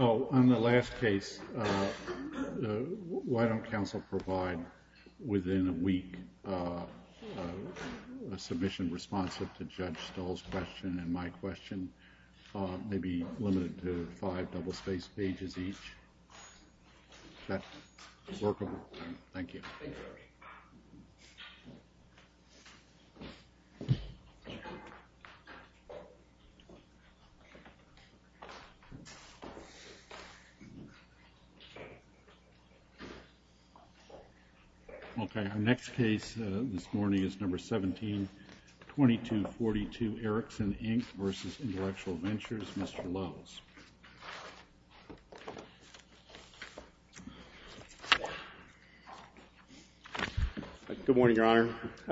Oh, on the last case, why don't counsel provide, within a week, a submission responsive to Judge Stull's question and my question, maybe limited to five double-spaced pages each? Is that workable? Thank you. Okay, our next case this morning is number 17, 2242 Ericsson Inc. v. Intellectual Ventures, Mr. Lowes. Good morning, Your Honor.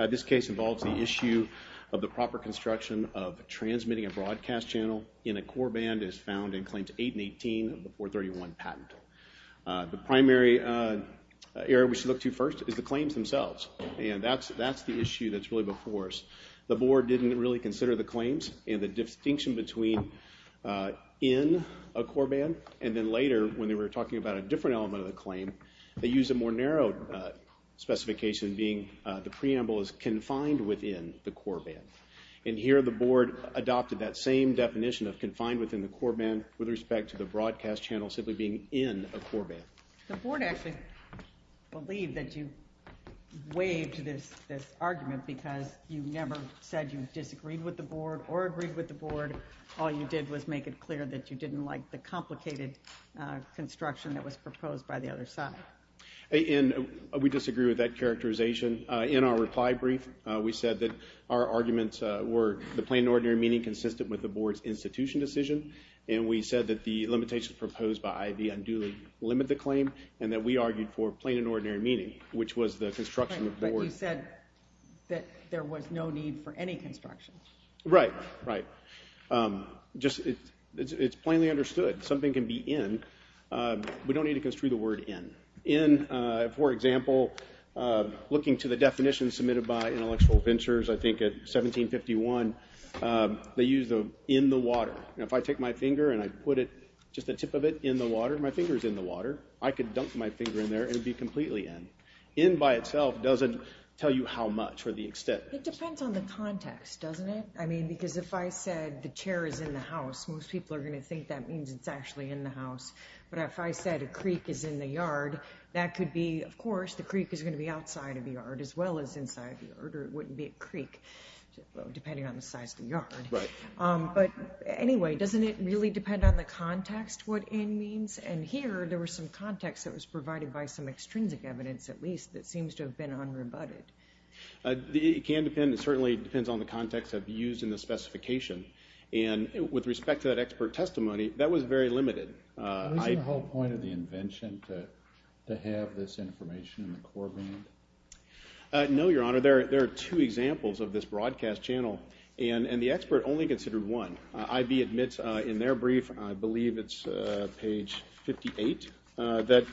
This case involves the issue of the proper construction of transmitting a broadcast channel in a core band as found in Claims 8 and 18 of the 431 patent. The primary area we should look to first is the claims themselves, and that's the issue that's really before us. The board didn't really consider the claims and the distinction between in a core band, and then later, when they were talking about a different element of the claim, they used a more narrow specification being the preamble is confined within the core band. And here the board adopted that same definition of confined within the core band with respect to the broadcast channel simply being in a core band. The board actually believed that you waived this argument because you never said you disagreed with the board or agreed with the board. All you did was make it clear that you didn't like the complicated construction that was proposed by the other side. And we disagree with that characterization. In our reply brief, we said that our arguments were the plain and ordinary meaning consistent with the board's institution decision, and we said that the limitations proposed by IB unduly limit the claim, and that we argued for plain and ordinary meaning, which was the construction of the board. But you said that there was no need for any construction. Right. Right. Just, it's plainly understood. Something can be in. We don't need to construe the word in. In, for example, looking to the definition submitted by Intellectual Ventures, I think at 1751, they use the in the water. If I take my finger and I put it, just the tip of it, in the water, my finger's in the water. I could dump my finger in there and it'd be completely in. In by itself doesn't tell you how much or the extent. It depends on the context, doesn't it? I mean, because if I said the chair is in the house, most people are going to think that means it's actually in the house. But if I said a creek is in the yard, that could be, of course, the creek is going to be outside of the yard as well as inside the yard, or it wouldn't be a creek, depending on the size of the yard. But anyway, doesn't it really depend on the context what in means? And here, there was some context that was provided by some extrinsic evidence, at least, that seems to have been unrebutted. It can depend, it certainly depends on the context of use in the specification. And with respect to that expert testimony, that was very limited. Isn't the whole point of the invention to have this information in the core band? No, Your Honor. There are two examples of this broadcast channel, and the expert only considered one. IB admits in their brief, I believe it's page 58, that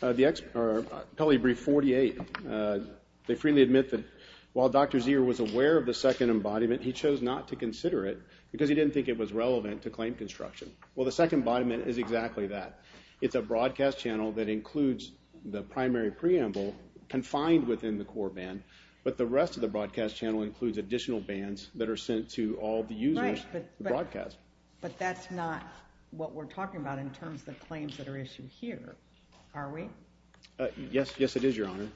the expert, or probably brief 48, they freely admit that while Dr. Zier was aware of the second embodiment, he chose not to consider it because he didn't think it was relevant to claim construction. Well, the second embodiment is exactly that. It's a broadcast channel that includes the primary preamble confined within the core band, but the rest of the broadcast channel includes additional bands that are sent to all the users of the broadcast. But that's not what we're talking about in terms of the claims that are issued here, are we? Yes, it is, Your Honor.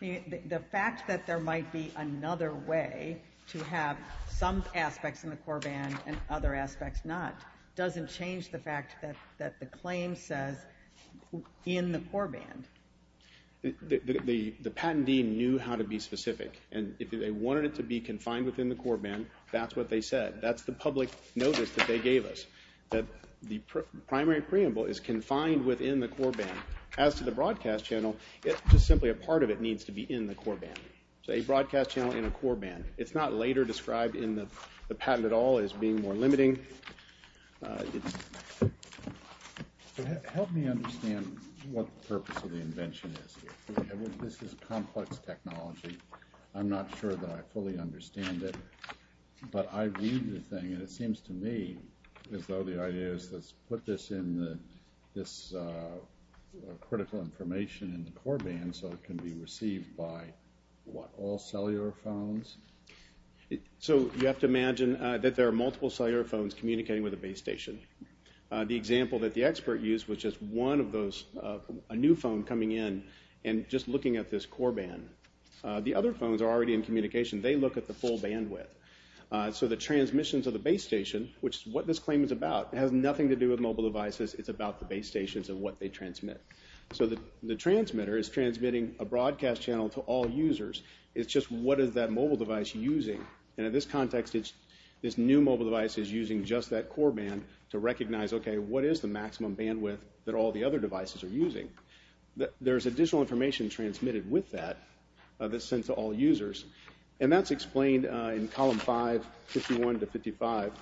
The fact that there might be another way to have some aspects in the core band and other aspects not doesn't change the fact that the claim says, in the core band. The patentee knew how to be specific, and if they wanted it to be confined within the core band, that's what they said. That's the public notice that they gave us, that the primary preamble is confined within the core band. As to the broadcast channel, it's just simply a part of it needs to be in the core band. So a broadcast channel in a core band. It's not later described in the patent at all as being more limiting. Help me understand what the purpose of the invention is here. This is complex technology. I'm not sure that I fully understand it, but I read the thing, and it seems to me as though the idea is let's put this critical information in the core band so it can be received by what, all cellular phones? So you have to imagine that there are multiple cellular phones communicating with a base station. The example that the expert used was just one of those, a new phone coming in and just looking at this core band. The other phones are already in communication. They look at the full bandwidth. So the transmissions of the base station, which is what this claim is about, has nothing to do with mobile devices. It's about the base stations and what they transmit. So the transmitter is transmitting a broadcast channel to all users. It's just what is that mobile device using? And in this context, this new mobile device is using just that core band to recognize, okay, what is the maximum bandwidth that all the other devices are using? There's additional information transmitted with that that's sent to all users. And that's explained in column 5, 51 to 55,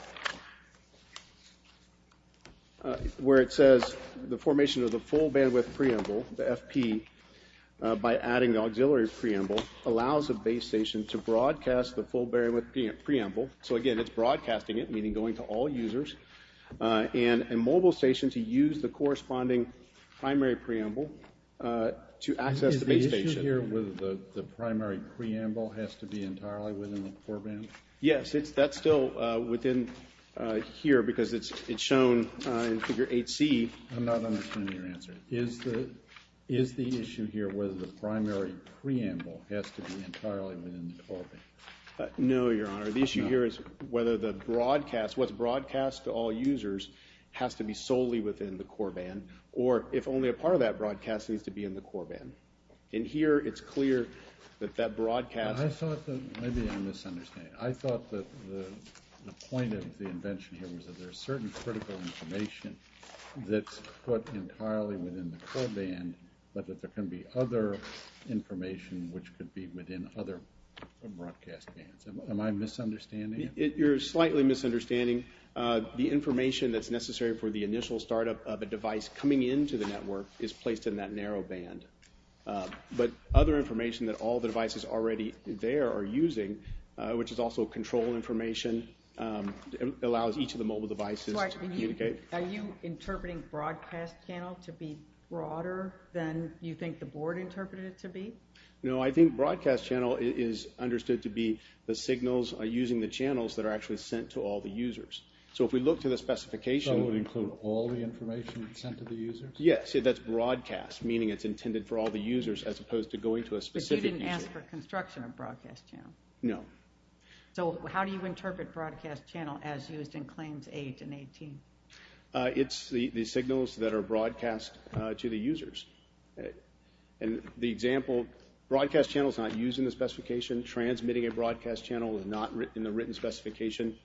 where it says the formation of the full bandwidth preamble, the FP, by adding the auxiliary preamble, allows a base station to broadcast the full bandwidth preamble. So again, it's broadcasting it, meaning going to all users, and a mobile station to use the corresponding primary preamble to access the base station. Is the issue here with the primary preamble has to be entirely within the core band? Yes, that's still within here because it's shown in Figure 8C. I'm not understanding your answer. Is the issue here whether the primary preamble has to be entirely within the core band? No, Your Honor. The issue here is whether the broadcast, what's broadcast to all users, has to be solely within the core band, or if only a part of that broadcast needs to be in the core band. In here, it's clear that that broadcast... I thought that maybe I'm misunderstanding. I thought that the point of the invention here was that there's certain critical information that's put entirely within the core band, but that there can be other information which could be within other broadcast bands. Am I misunderstanding? You're slightly misunderstanding. The information that's necessary for the initial startup of a device coming into the network is placed in that narrow band. But other information that all the devices already there are using, which is also control information, allows each of the mobile devices to communicate. Are you interpreting broadcast channel to be broader than you think the board interpreted it to be? No, I think broadcast channel is understood to be the signals using the channels that are actually sent to all the users. So if we look to the specification... So it would include all the information sent to the users? Yes. That's broadcast, meaning it's intended for all the users as opposed to going to a specific user. But you didn't ask for construction of broadcast channel. No. So how do you interpret broadcast channel as used in Claims 8 and 18? It's the signals that are broadcast to the users. And the example, broadcast channel is not used in the specification. Transmitting a broadcast channel is not in the written specification.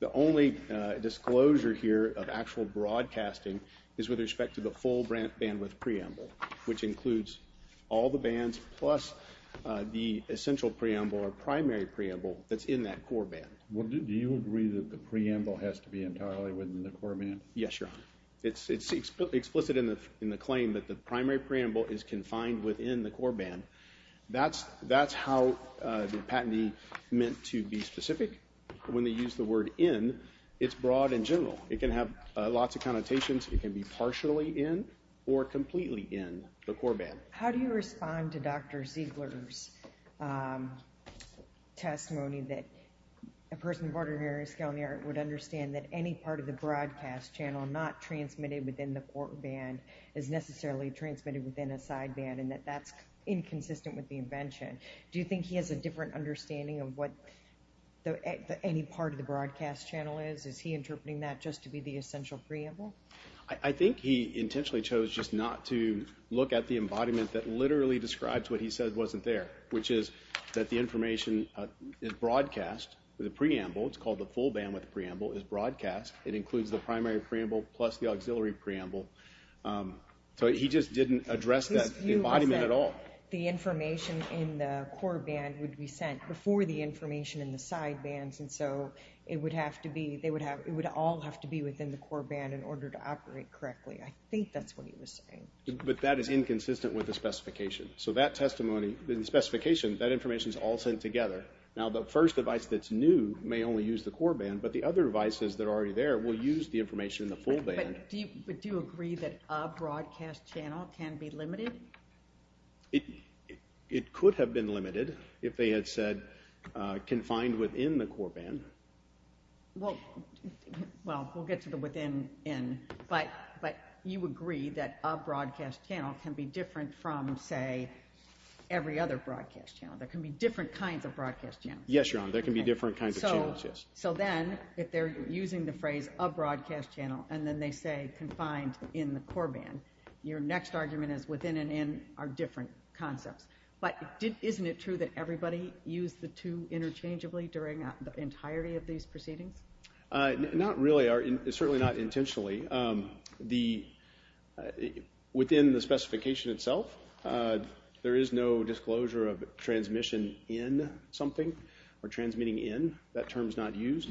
The only disclosure here of actual broadcasting is with respect to the full bandwidth preamble, which includes all the bands plus the essential preamble or primary preamble that's in that core band. Do you agree that the preamble has to be entirely within the core band? Yes, Your Honor. It's explicit in the claim that the primary preamble is confined within the core band. That's how the patentee meant to be specific. When they use the word in, it's broad and general. It can have lots of connotations. It can be partially in or completely in the core band. How do you respond to Dr. Ziegler's testimony that a person of ordinary skill in the art would understand that any part of the broadcast channel not transmitted within the core band is necessarily transmitted within a side band and that that's inconsistent with the invention? Do you think he has a different understanding of what any part of the broadcast channel is? Is he interpreting that just to be the essential preamble? I think he intentionally chose just not to look at the embodiment that literally describes what he said wasn't there, which is that the information is broadcast. The preamble, it's called the full bandwidth preamble, is broadcast. It includes the primary preamble plus the auxiliary preamble. So he just didn't address that embodiment at all. The information in the core band would be sent before the information in the side bands, and so it would all have to be within the core band in order to operate correctly. I think that's what he was saying. But that is inconsistent with the specification. So that testimony, the specification, that information is all sent together. Now, the first device that's new may only use the core band, but the other devices that are already there will use the information in the full band. But do you agree that a broadcast channel can be limited? It could have been limited if they had said confined within the core band. Well, we'll get to the within in, but you agree that a broadcast channel can be different from, say, every other broadcast channel. There can be different kinds of broadcast channels. Yes, Your Honor, there can be different kinds of channels, yes. So then if they're using the phrase a broadcast channel and then they say confined in the core band, your next argument is within and in are different concepts. But isn't it true that everybody used the two interchangeably during the entirety of these proceedings? Not really, certainly not intentionally. Within the specification itself, there is no disclosure of transmission in something or transmitting in. That term is not used.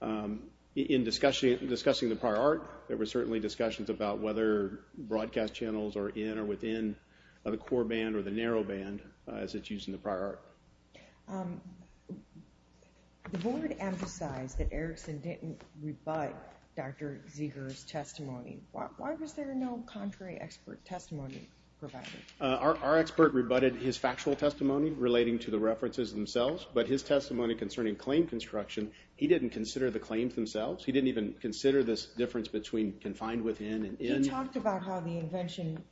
In discussing the prior art, there were certainly discussions about whether broadcast channels are in or within the core band or the narrow band as it's used in the prior art. The board emphasized that Erickson didn't rebut Dr. Zeger's testimony. Why was there no contrary expert testimony provided? Our expert rebutted his factual testimony relating to the references themselves, but his testimony concerning claim construction, he didn't consider the claims themselves. He didn't even consider this difference between confined within and in. You talked about how the invention,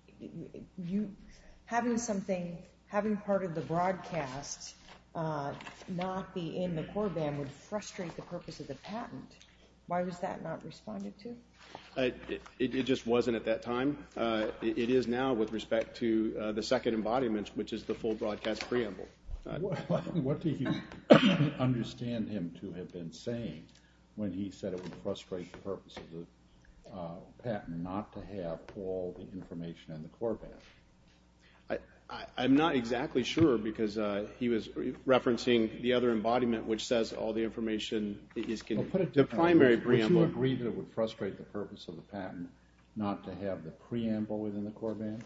having something, having part of the broadcast not be in the core band would frustrate the purpose of the patent. Why was that not responded to? It just wasn't at that time. It is now with respect to the second embodiment, which is the full broadcast preamble. What do you understand him to have been saying when he said it would frustrate the purpose of the patent not to have all the information in the core band? I'm not exactly sure because he was referencing the other embodiment, which says all the information is in the primary preamble. Would you agree that it would frustrate the purpose of the patent not to have the preamble within the core band?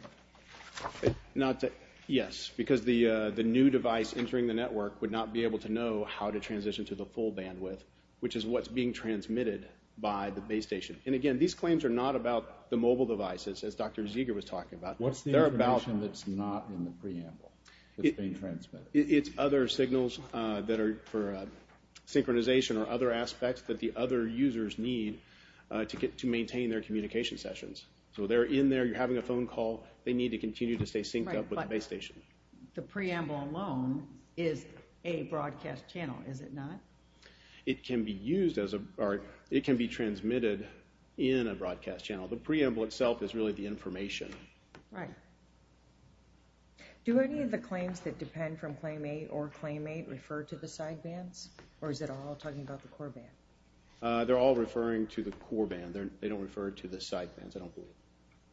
Yes, because the new device entering the network would not be able to know how to transition to the full bandwidth, which is what's being transmitted by the base station. Again, these claims are not about the mobile devices, as Dr. Zeger was talking about. What's the information that's not in the preamble that's being transmitted? It's other signals that are for synchronization or other aspects that the other users need to maintain their communication sessions. So they're in there, you're having a phone call, they need to continue to stay synced up with the base station. The preamble alone is a broadcast channel, is it not? It can be transmitted in a broadcast channel. The preamble itself is really the information. Right. Do any of the claims that depend from Claim 8 or Claim 8 refer to the side bands, or is it all talking about the core band? They're all referring to the core band. They don't refer to the side bands, I don't believe.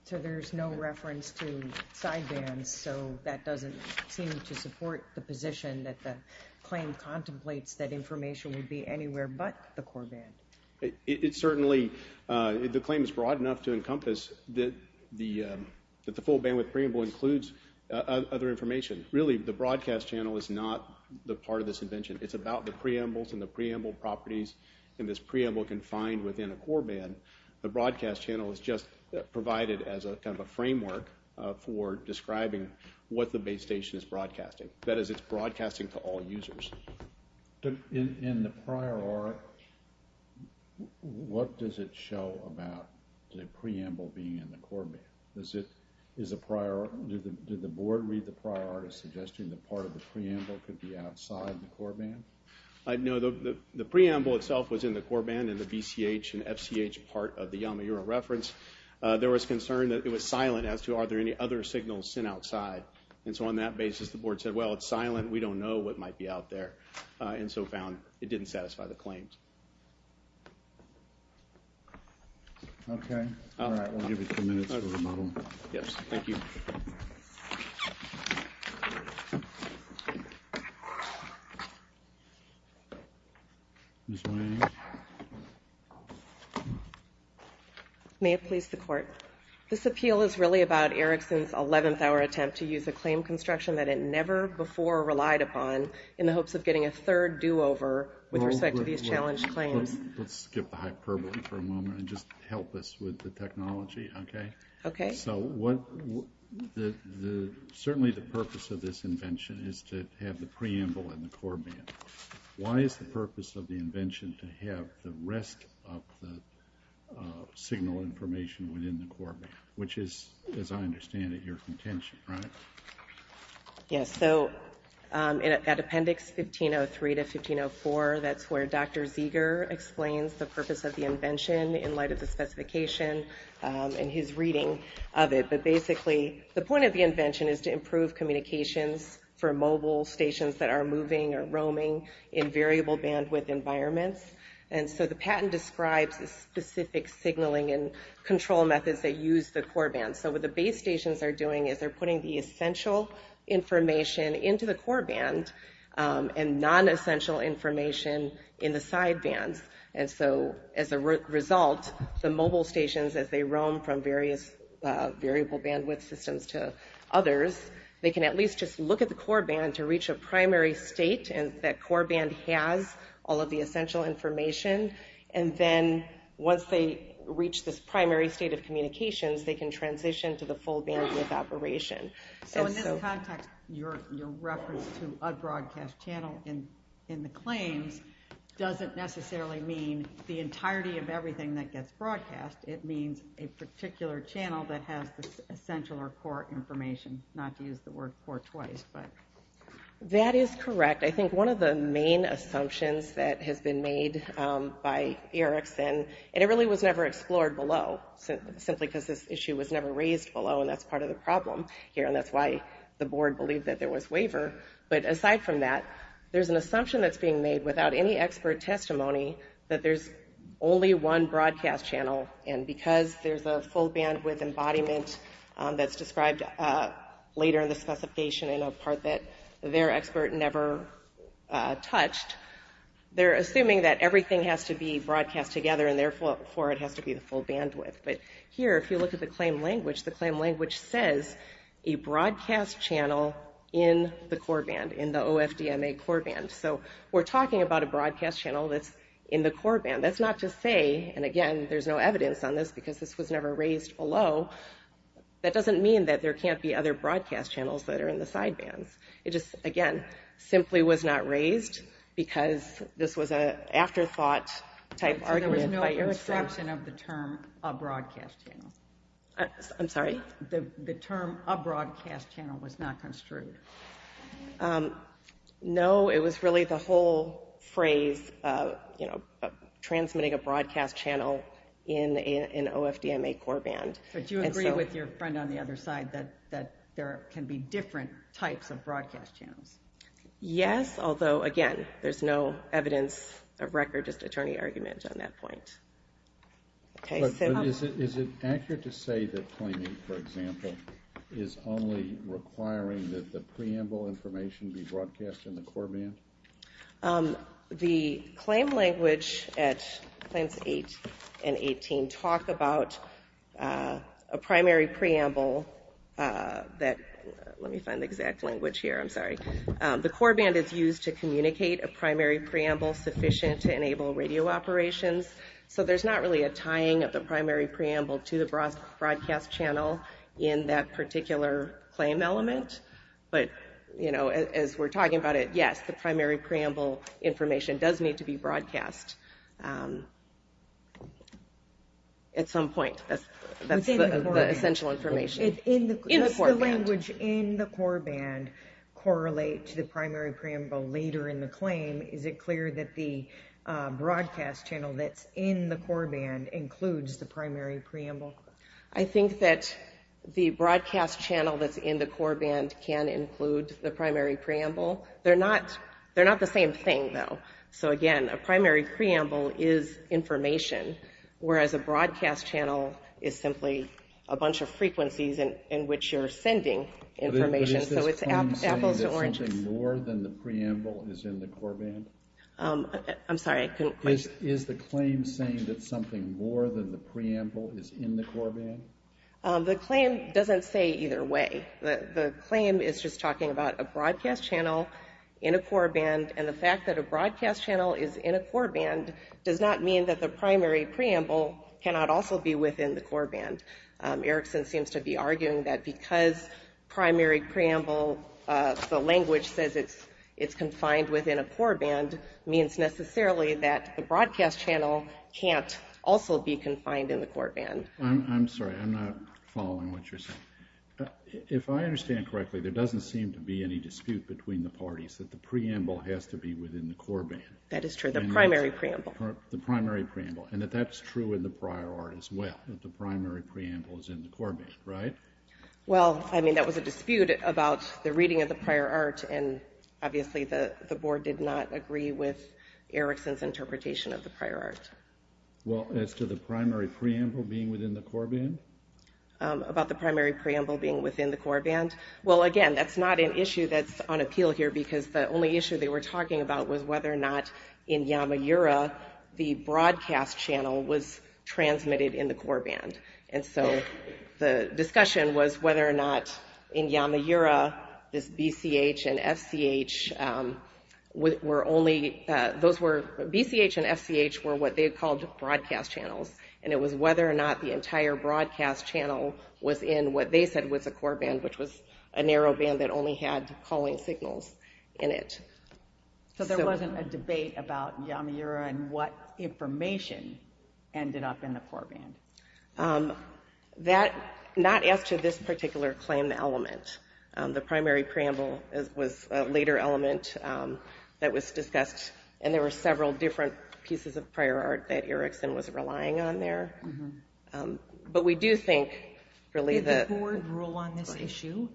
So there's no reference to side bands, so that doesn't seem to support the position that the claim contemplates that information would be anywhere but the core band. It certainly, the claim is broad enough to encompass that the full bandwidth preamble includes other information. Really, the broadcast channel is not the part of this invention. It's about the preambles and the preamble properties, and this preamble confined within a core band. The broadcast channel is just provided as a kind of a framework for describing what the base station is broadcasting. That is, it's broadcasting to all users. In the prior art, what does it show about the preamble being in the core band? Did the board read the prior art as suggesting that part of the preamble could be outside the core band? No, the preamble itself was in the core band in the VCH and FCH part of the Yamaura reference. There was concern that it was silent as to are there any other signals sent outside. And so on that basis, the board said, well, it's silent, we don't know what might be out there, and so found it didn't satisfy the claims. Okay. All right. We'll give you two minutes for the model. Yes. Thank you. May it please the court. This appeal is really about Erickson's 11th hour attempt to use a claim construction that it never before relied upon in the hopes of getting a third do-over with respect to these challenged claims. Let's skip the hyperbole for a moment and just help us with the technology, okay? Okay. So certainly the purpose of this invention is to have the preamble in the core band. Why is the purpose of the invention to have the rest of the signal information within the core band, which is, as I understand it, your contention, right? Yes. So at Appendix 1503 to 1504, that's where Dr. Zeger explains the purpose of the invention in light of the specification and his reading of it. But basically, the point of the invention is to improve communications for mobile stations that are moving or roaming in variable bandwidth environments. And so the patent describes the specific signaling and control methods that use the core band. So what the base stations are doing is they're putting the essential information into the core band and non-essential information in the side bands. And so as a result, the mobile stations, as they roam from various variable bandwidth systems to others, they can at least just look at the core band to reach a primary state and that core band has all of the essential information. And then once they reach this primary state of communications, they can transition to the full bandwidth operation. So in this context, your reference to a broadcast channel in the claims doesn't necessarily mean the entirety of everything that gets broadcast. It means a particular channel that has the essential or core information, not to use the word core twice. That is correct. I think one of the main assumptions that has been made by Erikson, and it really was never explored below, simply because this issue was never raised below, and that's part of the problem here, and that's why the board believed that there was waiver. But aside from that, there's an assumption that's being made without any expert testimony that there's only one broadcast channel. And because there's a full bandwidth embodiment that's described later in the specification in a part that their expert never touched, they're assuming that everything has to be broadcast together and therefore it has to be the full bandwidth. But here, if you look at the claim language, the claim language says a broadcast channel in the core band, in the OFDMA core band. So we're talking about a broadcast channel that's in the core band. That's not to say, and again, there's no evidence on this because this was never raised below, that doesn't mean that there can't be other broadcast channels that are in the side bands. It just, again, simply was not raised because this was an afterthought type argument by Erikson. So there was no abstraction of the term a broadcast channel? I'm sorry? The term a broadcast channel was not construed? No, it was really the whole phrase, you know, transmitting a broadcast channel in an OFDMA core band. But you agree with your friend on the other side that there can be different types of broadcast channels? Yes, although, again, there's no evidence of record, just attorney argument on that point. Is it accurate to say that claiming, for example, is only requiring that the preamble information be broadcast in the core band? The claim language at claims 8 and 18 talk about a primary preamble that, let me find the exact language here, I'm sorry. The core band is used to communicate a primary preamble sufficient to enable radio operations. So there's not really a tying of the primary preamble to the broadcast channel in that particular claim element. But, you know, as we're talking about it, yes, the primary preamble information does need to be broadcast at some point. That's the essential information. Does the language in the core band correlate to the primary preamble later in the claim? Is it clear that the broadcast channel that's in the core band includes the primary preamble? I think that the broadcast channel that's in the core band can include the primary preamble. They're not the same thing, though. So, again, a primary preamble is information, whereas a broadcast channel is simply a bunch of frequencies in which you're sending information. But is this claim saying that something more than the preamble is in the core band? Is the claim saying that something more than the preamble is in the core band? The claim doesn't say either way. The claim is just talking about a broadcast channel in a core band, and the fact that a broadcast channel is in a core band does not mean that the primary preamble cannot also be within the core band. Erickson seems to be arguing that because primary preamble, the language says it's confined within a core band, means necessarily that the broadcast channel can't also be confined in the core band. I'm sorry, I'm not following what you're saying. If I understand correctly, there doesn't seem to be any dispute between the parties that the preamble has to be within the core band. That is true, the primary preamble. The primary preamble, and that that's true in the prior art as well, that the primary preamble is in the core band, right? Well, I mean, that was a dispute about the reading of the prior art, and obviously the board did not agree with Erickson's interpretation of the prior art. Well, as to the primary preamble being within the core band? About the primary preamble being within the core band? Well, again, that's not an issue that's on appeal here, because the only issue they were talking about was whether or not in Yamaura, the broadcast channel was transmitted in the core band. And so the discussion was whether or not in Yamaura, this BCH and FCH were only, those were, BCH and FCH were what they called broadcast channels, and it was whether or not the entire broadcast channel was in what they said was a core band, which was a narrow band that only had calling signals in it. So there wasn't a debate about Yamaura and what information ended up in the core band? Not as to this particular claim element. The primary preamble was a later element that was discussed, and there were several different pieces of prior art that Erickson was relying on there. But we do think, really, that... Did the board rule on this issue?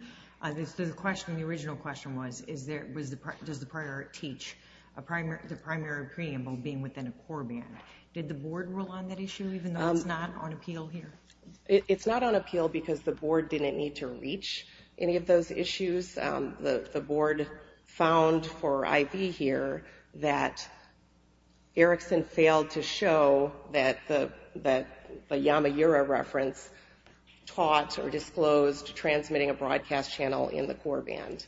The original question was, does the prior art teach the primary preamble being within a core band? In fact, did the board rule on that issue, even though it's not on appeal here? It's not on appeal because the board didn't need to reach any of those issues. The board found for IV here that Erickson failed to show that the Yamaura reference taught or disclosed transmitting a broadcast channel in the core band.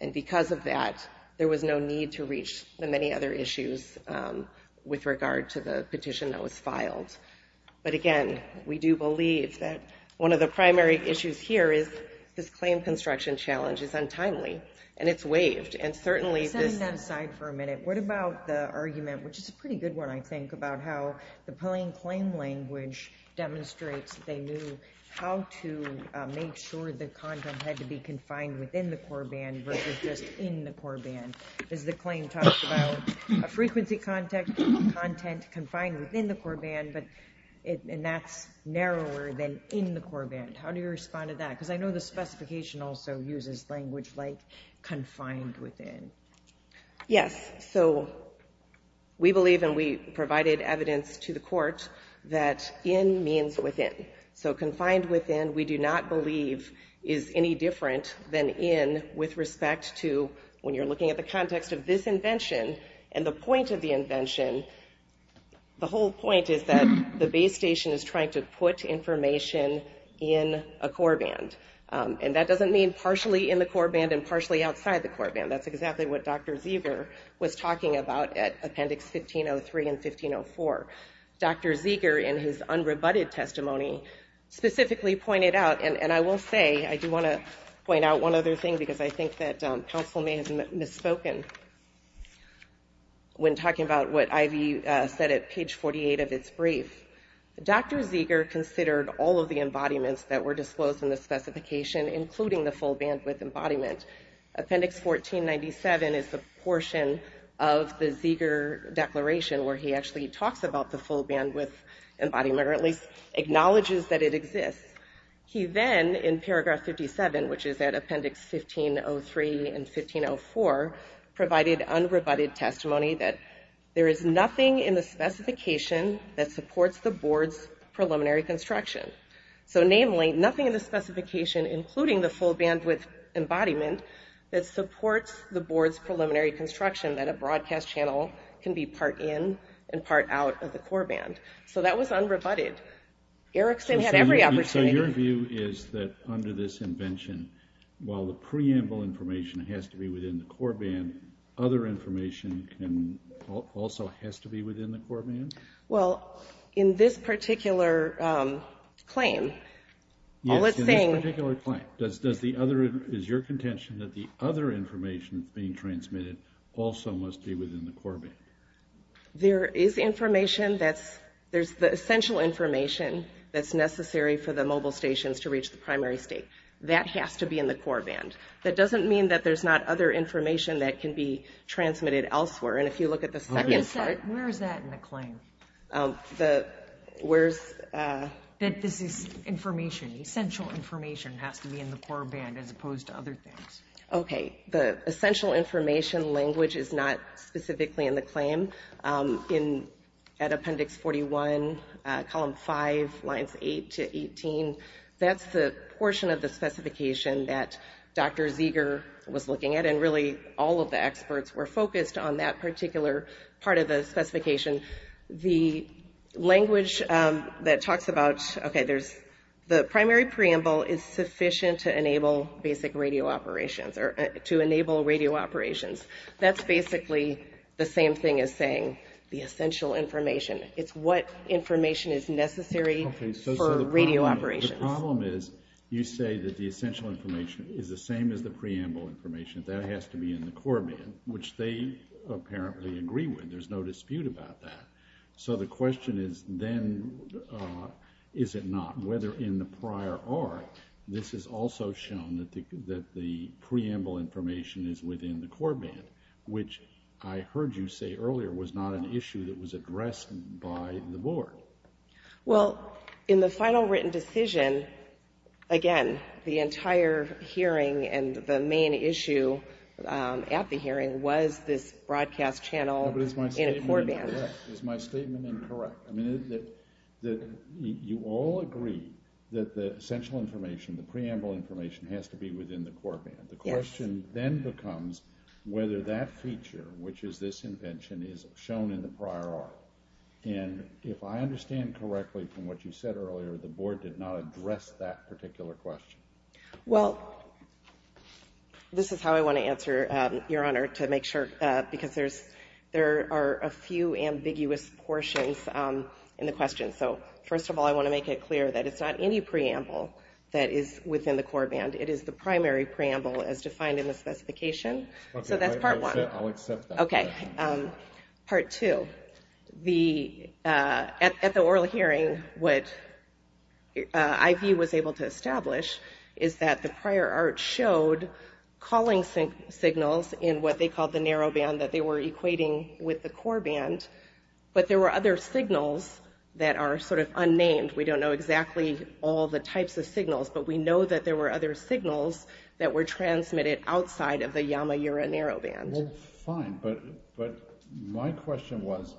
And because of that, there was no need to reach the many other issues with regard to the petition that was filed. But again, we do believe that one of the primary issues here is this claim construction challenge is untimely, and it's waived, and certainly this... Setting that aside for a minute, what about the argument, which is a pretty good one, I think, about how the plain claim language demonstrates that they knew how to make sure the content had to be confined within the core band versus just in the core band? Because the claim talks about a frequency content confined within the core band, and that's narrower than in the core band. How do you respond to that? Because I know the specification also uses language like confined within. Yes, so we believe, and we provided evidence to the court, that in means within. So confined within, we do not believe, is any different than in with respect to when you're looking at the context of this invention and the point of the invention, the whole point is that the base station is trying to put information in a core band. And that doesn't mean partially in the core band and partially outside the core band. That's exactly what Dr. Zieger was talking about at Appendix 1503 and 1504. Dr. Zieger, in his unrebutted testimony, specifically pointed out, and I will say, I do want to point out one other thing because I think that counsel may have misspoken when talking about what Ivy said at page 48 of its brief. Dr. Zieger considered all of the embodiments that were disclosed in the specification, including the full bandwidth embodiment. Appendix 1497 is the portion of the Zieger declaration where he actually talks about the full bandwidth embodiment, or at least acknowledges that it exists. He then, in paragraph 57, which is at Appendix 1503 and 1504, provided unrebutted testimony that there is nothing in the specification that supports the board's preliminary construction. So, namely, nothing in the specification, including the full bandwidth embodiment, that supports the board's preliminary construction, that a broadcast channel can be part in and part out of the core band. So that was unrebutted. Erickson had every opportunity. So your view is that under this invention, while the preamble information has to be within the core band, other information also has to be within the core band? Well, in this particular claim, all it's saying... Yes, in this particular claim, does the other, is your contention that the other information being transmitted also must be within the core band? There is information that's, there's the essential information that's necessary for the mobile stations to reach the primary state. That has to be in the core band. That doesn't mean that there's not other information that can be transmitted elsewhere. And if you look at the second part... Where is that in the claim? The, where's... That this is information, essential information has to be in the core band as opposed to other things. Okay. The essential information language is not specifically in the claim. In, at Appendix 41, Column 5, Lines 8 to 18, that's the portion of the specification that Dr. Zeger was looking at, and really all of the experts were focused on that particular part of the specification. The language that talks about, okay, there's... The primary preamble is sufficient to enable basic radio operations, or to enable radio operations. That's basically the same thing as saying the essential information. It's what information is necessary for radio operations. Okay, so the problem is, you say that the essential information is the same as the preamble information. That has to be in the core band, which they apparently agree with. There's no dispute about that. So the question is, then, is it not? Whether in the prior art, this is also shown that the preamble information is within the core band, which I heard you say earlier was not an issue that was addressed by the board. Well, in the final written decision, again, the entire hearing and the main issue at the hearing was this broadcast channel in a core band. But is my statement incorrect? Is my statement incorrect? I mean, you all agree that the essential information, the preamble information, has to be within the core band. The question then becomes whether that feature, which is this invention, is shown in the prior art. And if I understand correctly from what you said earlier, the board did not address that particular question. Well, this is how I want to answer, Your Honor, to make sure, because there are a few ambiguous portions in the question. So first of all, I want to make it clear that it's not any preamble that is within the core band. It is the primary preamble as defined in the specification. So that's part one. I'll accept that. Okay, part two. At the oral hearing, what IV was able to establish is that the prior art showed calling signals in what they called the narrow band that they were equating with the core band, but there were other signals that are sort of unnamed. We don't know exactly all the types of signals, but we know that there were other signals that were transmitted outside of the Yamaura narrow band. Well, fine, but my question was,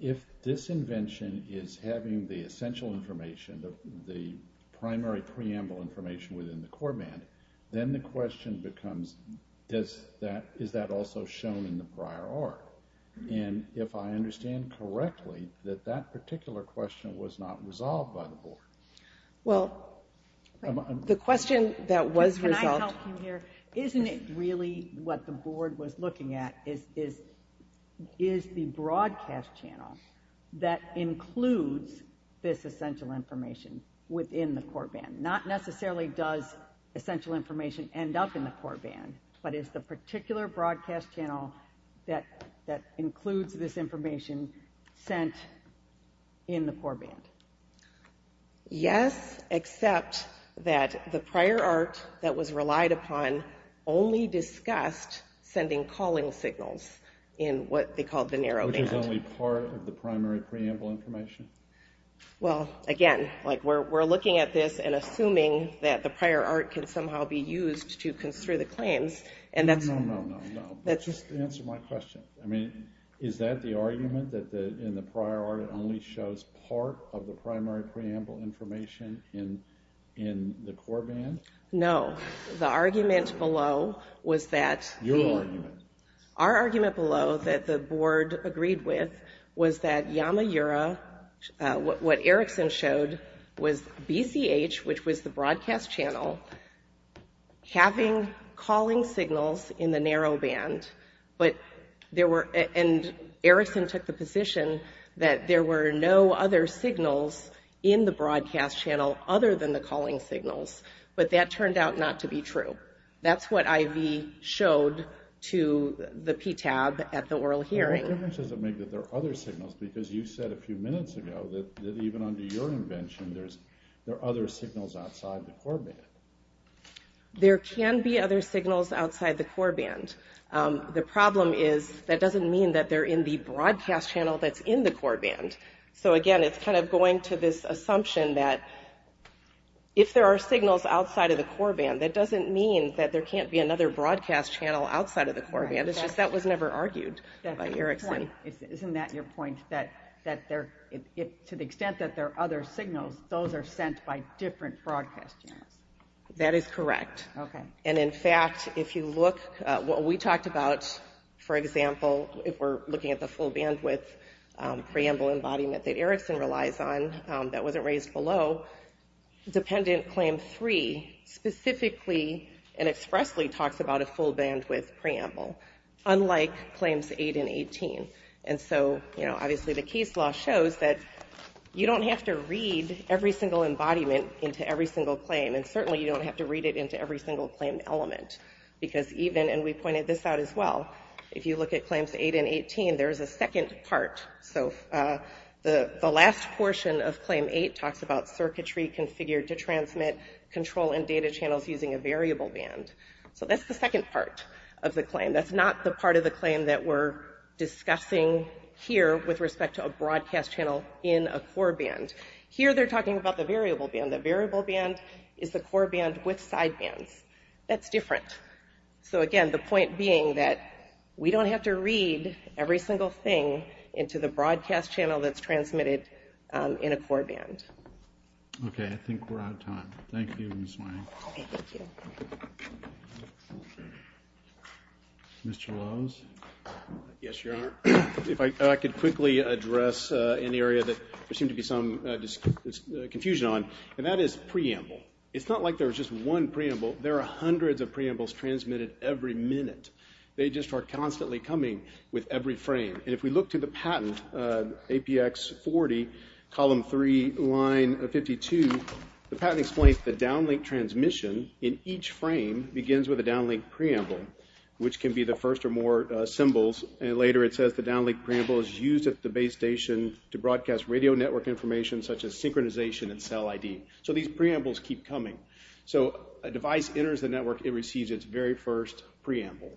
if this invention is having the essential information, the primary preamble information within the core band, then the question becomes, is that also shown in the prior art? And if I understand correctly, that that particular question was not resolved by the board. Well, the question that was resolved... Can I help you here? Isn't it really what the board was looking at is the broadcast channel that includes this essential information within the core band? Not necessarily does essential information end up in the core band, but is the particular broadcast channel that includes this information sent in the core band? Yes, except that the prior art that was relied upon only discussed sending calling signals in what they called the narrow band. Which is only part of the primary preamble information? Well, again, we're looking at this and assuming that the prior art can somehow be used to construe the claims and that's... No, no, no, no. Just answer my question. I mean, is that the argument that in the prior art it only shows part of the primary preamble information in the core band? No. The argument below was that... Your argument. Our argument below that the board agreed with was that Yamaura, what Erickson showed, was BCH, which was the broadcast channel, having calling signals in the narrow band, but there were... And Erickson took the position that there were no other signals in the broadcast channel other than the calling signals, but that turned out not to be true. That's what I.V. showed to the PTAB at the oral hearing. Well, what difference does it make that there are other signals? Because you said a few minutes ago that even under your invention there are other signals outside the core band. There can be other signals outside the core band. The problem is that doesn't mean that they're in the broadcast channel that's in the core band. So, again, it's kind of going to this assumption that if there are signals outside of the core band, that doesn't mean that there can't be another broadcast channel outside of the core band. It's just that was never argued by Erickson. Isn't that your point, that to the extent that there are other signals, those are sent by different broadcast channels? That is correct. Okay. And, in fact, if you look at what we talked about, for example, if we're looking at the full bandwidth preamble embodiment that Erickson relies on that wasn't raised below, dependent claim three specifically and expressly talks about a full bandwidth preamble, unlike claims eight and 18. And so, you know, obviously the case law shows that you don't have to read every single embodiment into every single claim. And certainly you don't have to read it into every single claim element. Because even, and we pointed this out as well, if you look at claims eight and 18, there's a second part. So the last portion of claim eight talks about circuitry configured to transmit control and data channels using a variable band. So that's the second part of the claim. That's not the part of the claim that we're discussing here with respect to a broadcast channel in a core band. Here they're talking about the variable band. The variable band is the core band with side bands. That's different. So, again, the point being that we don't have to read every single thing into the broadcast channel that's transmitted in a core band. Okay. I think we're out of time. Thank you, Ms. Mayer. Thank you. Mr. Lowes? Yes, Your Honor. If I could quickly address an area that there seemed to be some confusion on, and that is preamble. It's not like there's just one preamble. There are hundreds of preambles transmitted every minute. They just are constantly coming with every frame. And if we look to the patent, APX 40, column 3, line 52, the patent explains the downlink transmission in each frame begins with a downlink preamble, which can be the first or more symbols. And later it says the downlink preamble is used at the base station to broadcast radio network information such as synchronization and cell ID. So these preambles keep coming. So a device enters the network, it receives its very first preamble.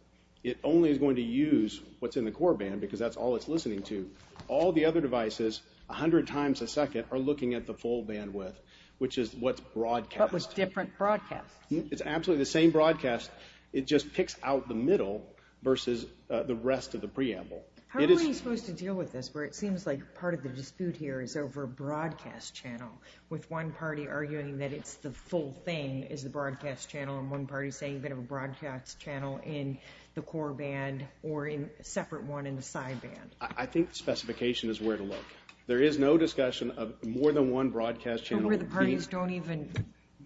It only is going to use what's in the core band because that's all it's listening to. All the other devices, 100 times a second, are looking at the full bandwidth, which is what's broadcast. What was different broadcast. It's absolutely the same broadcast. It just picks out the middle versus the rest of the preamble. How are we supposed to deal with this where it seems like part of the dispute here is over broadcast channel, with one party arguing that it's the full thing, is the broadcast channel, and one party saying they have a broadcast channel in the core band or a separate one in the side band? I think the specification is where to look. There is no discussion of more than one broadcast channel. But where the parties don't even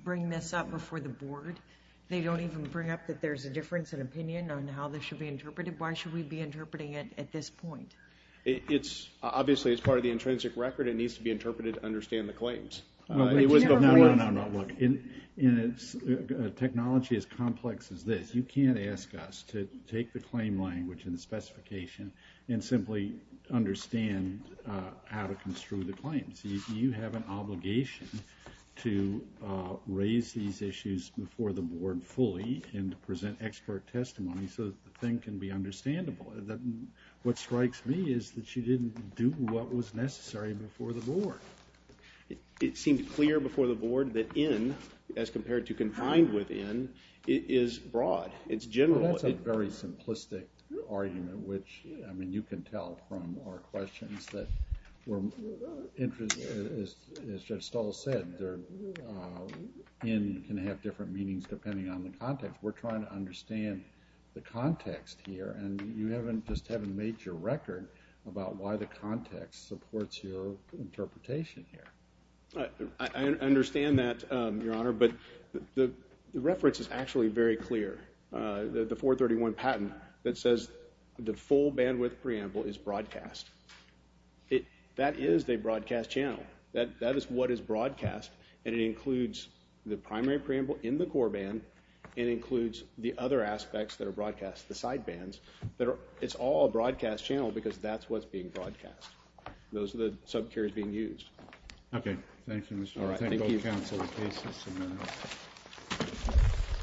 bring this up before the board? They don't even bring up that there's a difference in opinion on how this should be interpreted? Why should we be interpreting it at this point? Obviously, it's part of the intrinsic record. It needs to be interpreted to understand the claims. No, no, no, look. Technology is complex as this. You can't ask us to take the claim language and the specification and simply understand how to construe the claims. You have an obligation to raise these issues before the board fully and to present expert testimony so that the thing can be understandable. What strikes me is that you didn't do what was necessary before the board. It seemed clear before the board that in, as compared to confined within, is broad. It's general. Well, that's a very simplistic argument, which, I mean, you can tell from our questions that we're interested. As Judge Stahl said, in can have different meanings depending on the context. We're trying to understand the context here. And you just haven't made your record about why the context supports your interpretation here. I understand that, Your Honor, but the reference is actually very clear. The 431 patent that says the full bandwidth preamble is broadcast. That is a broadcast channel. That is what is broadcast, and it includes the primary preamble in the core band and includes the other aspects that are broadcast, the side bands. It's all a broadcast channel because that's what's being broadcast. Those are the subcaries being used. Okay. Thank you, Mr. Othello. Thank you, counsel.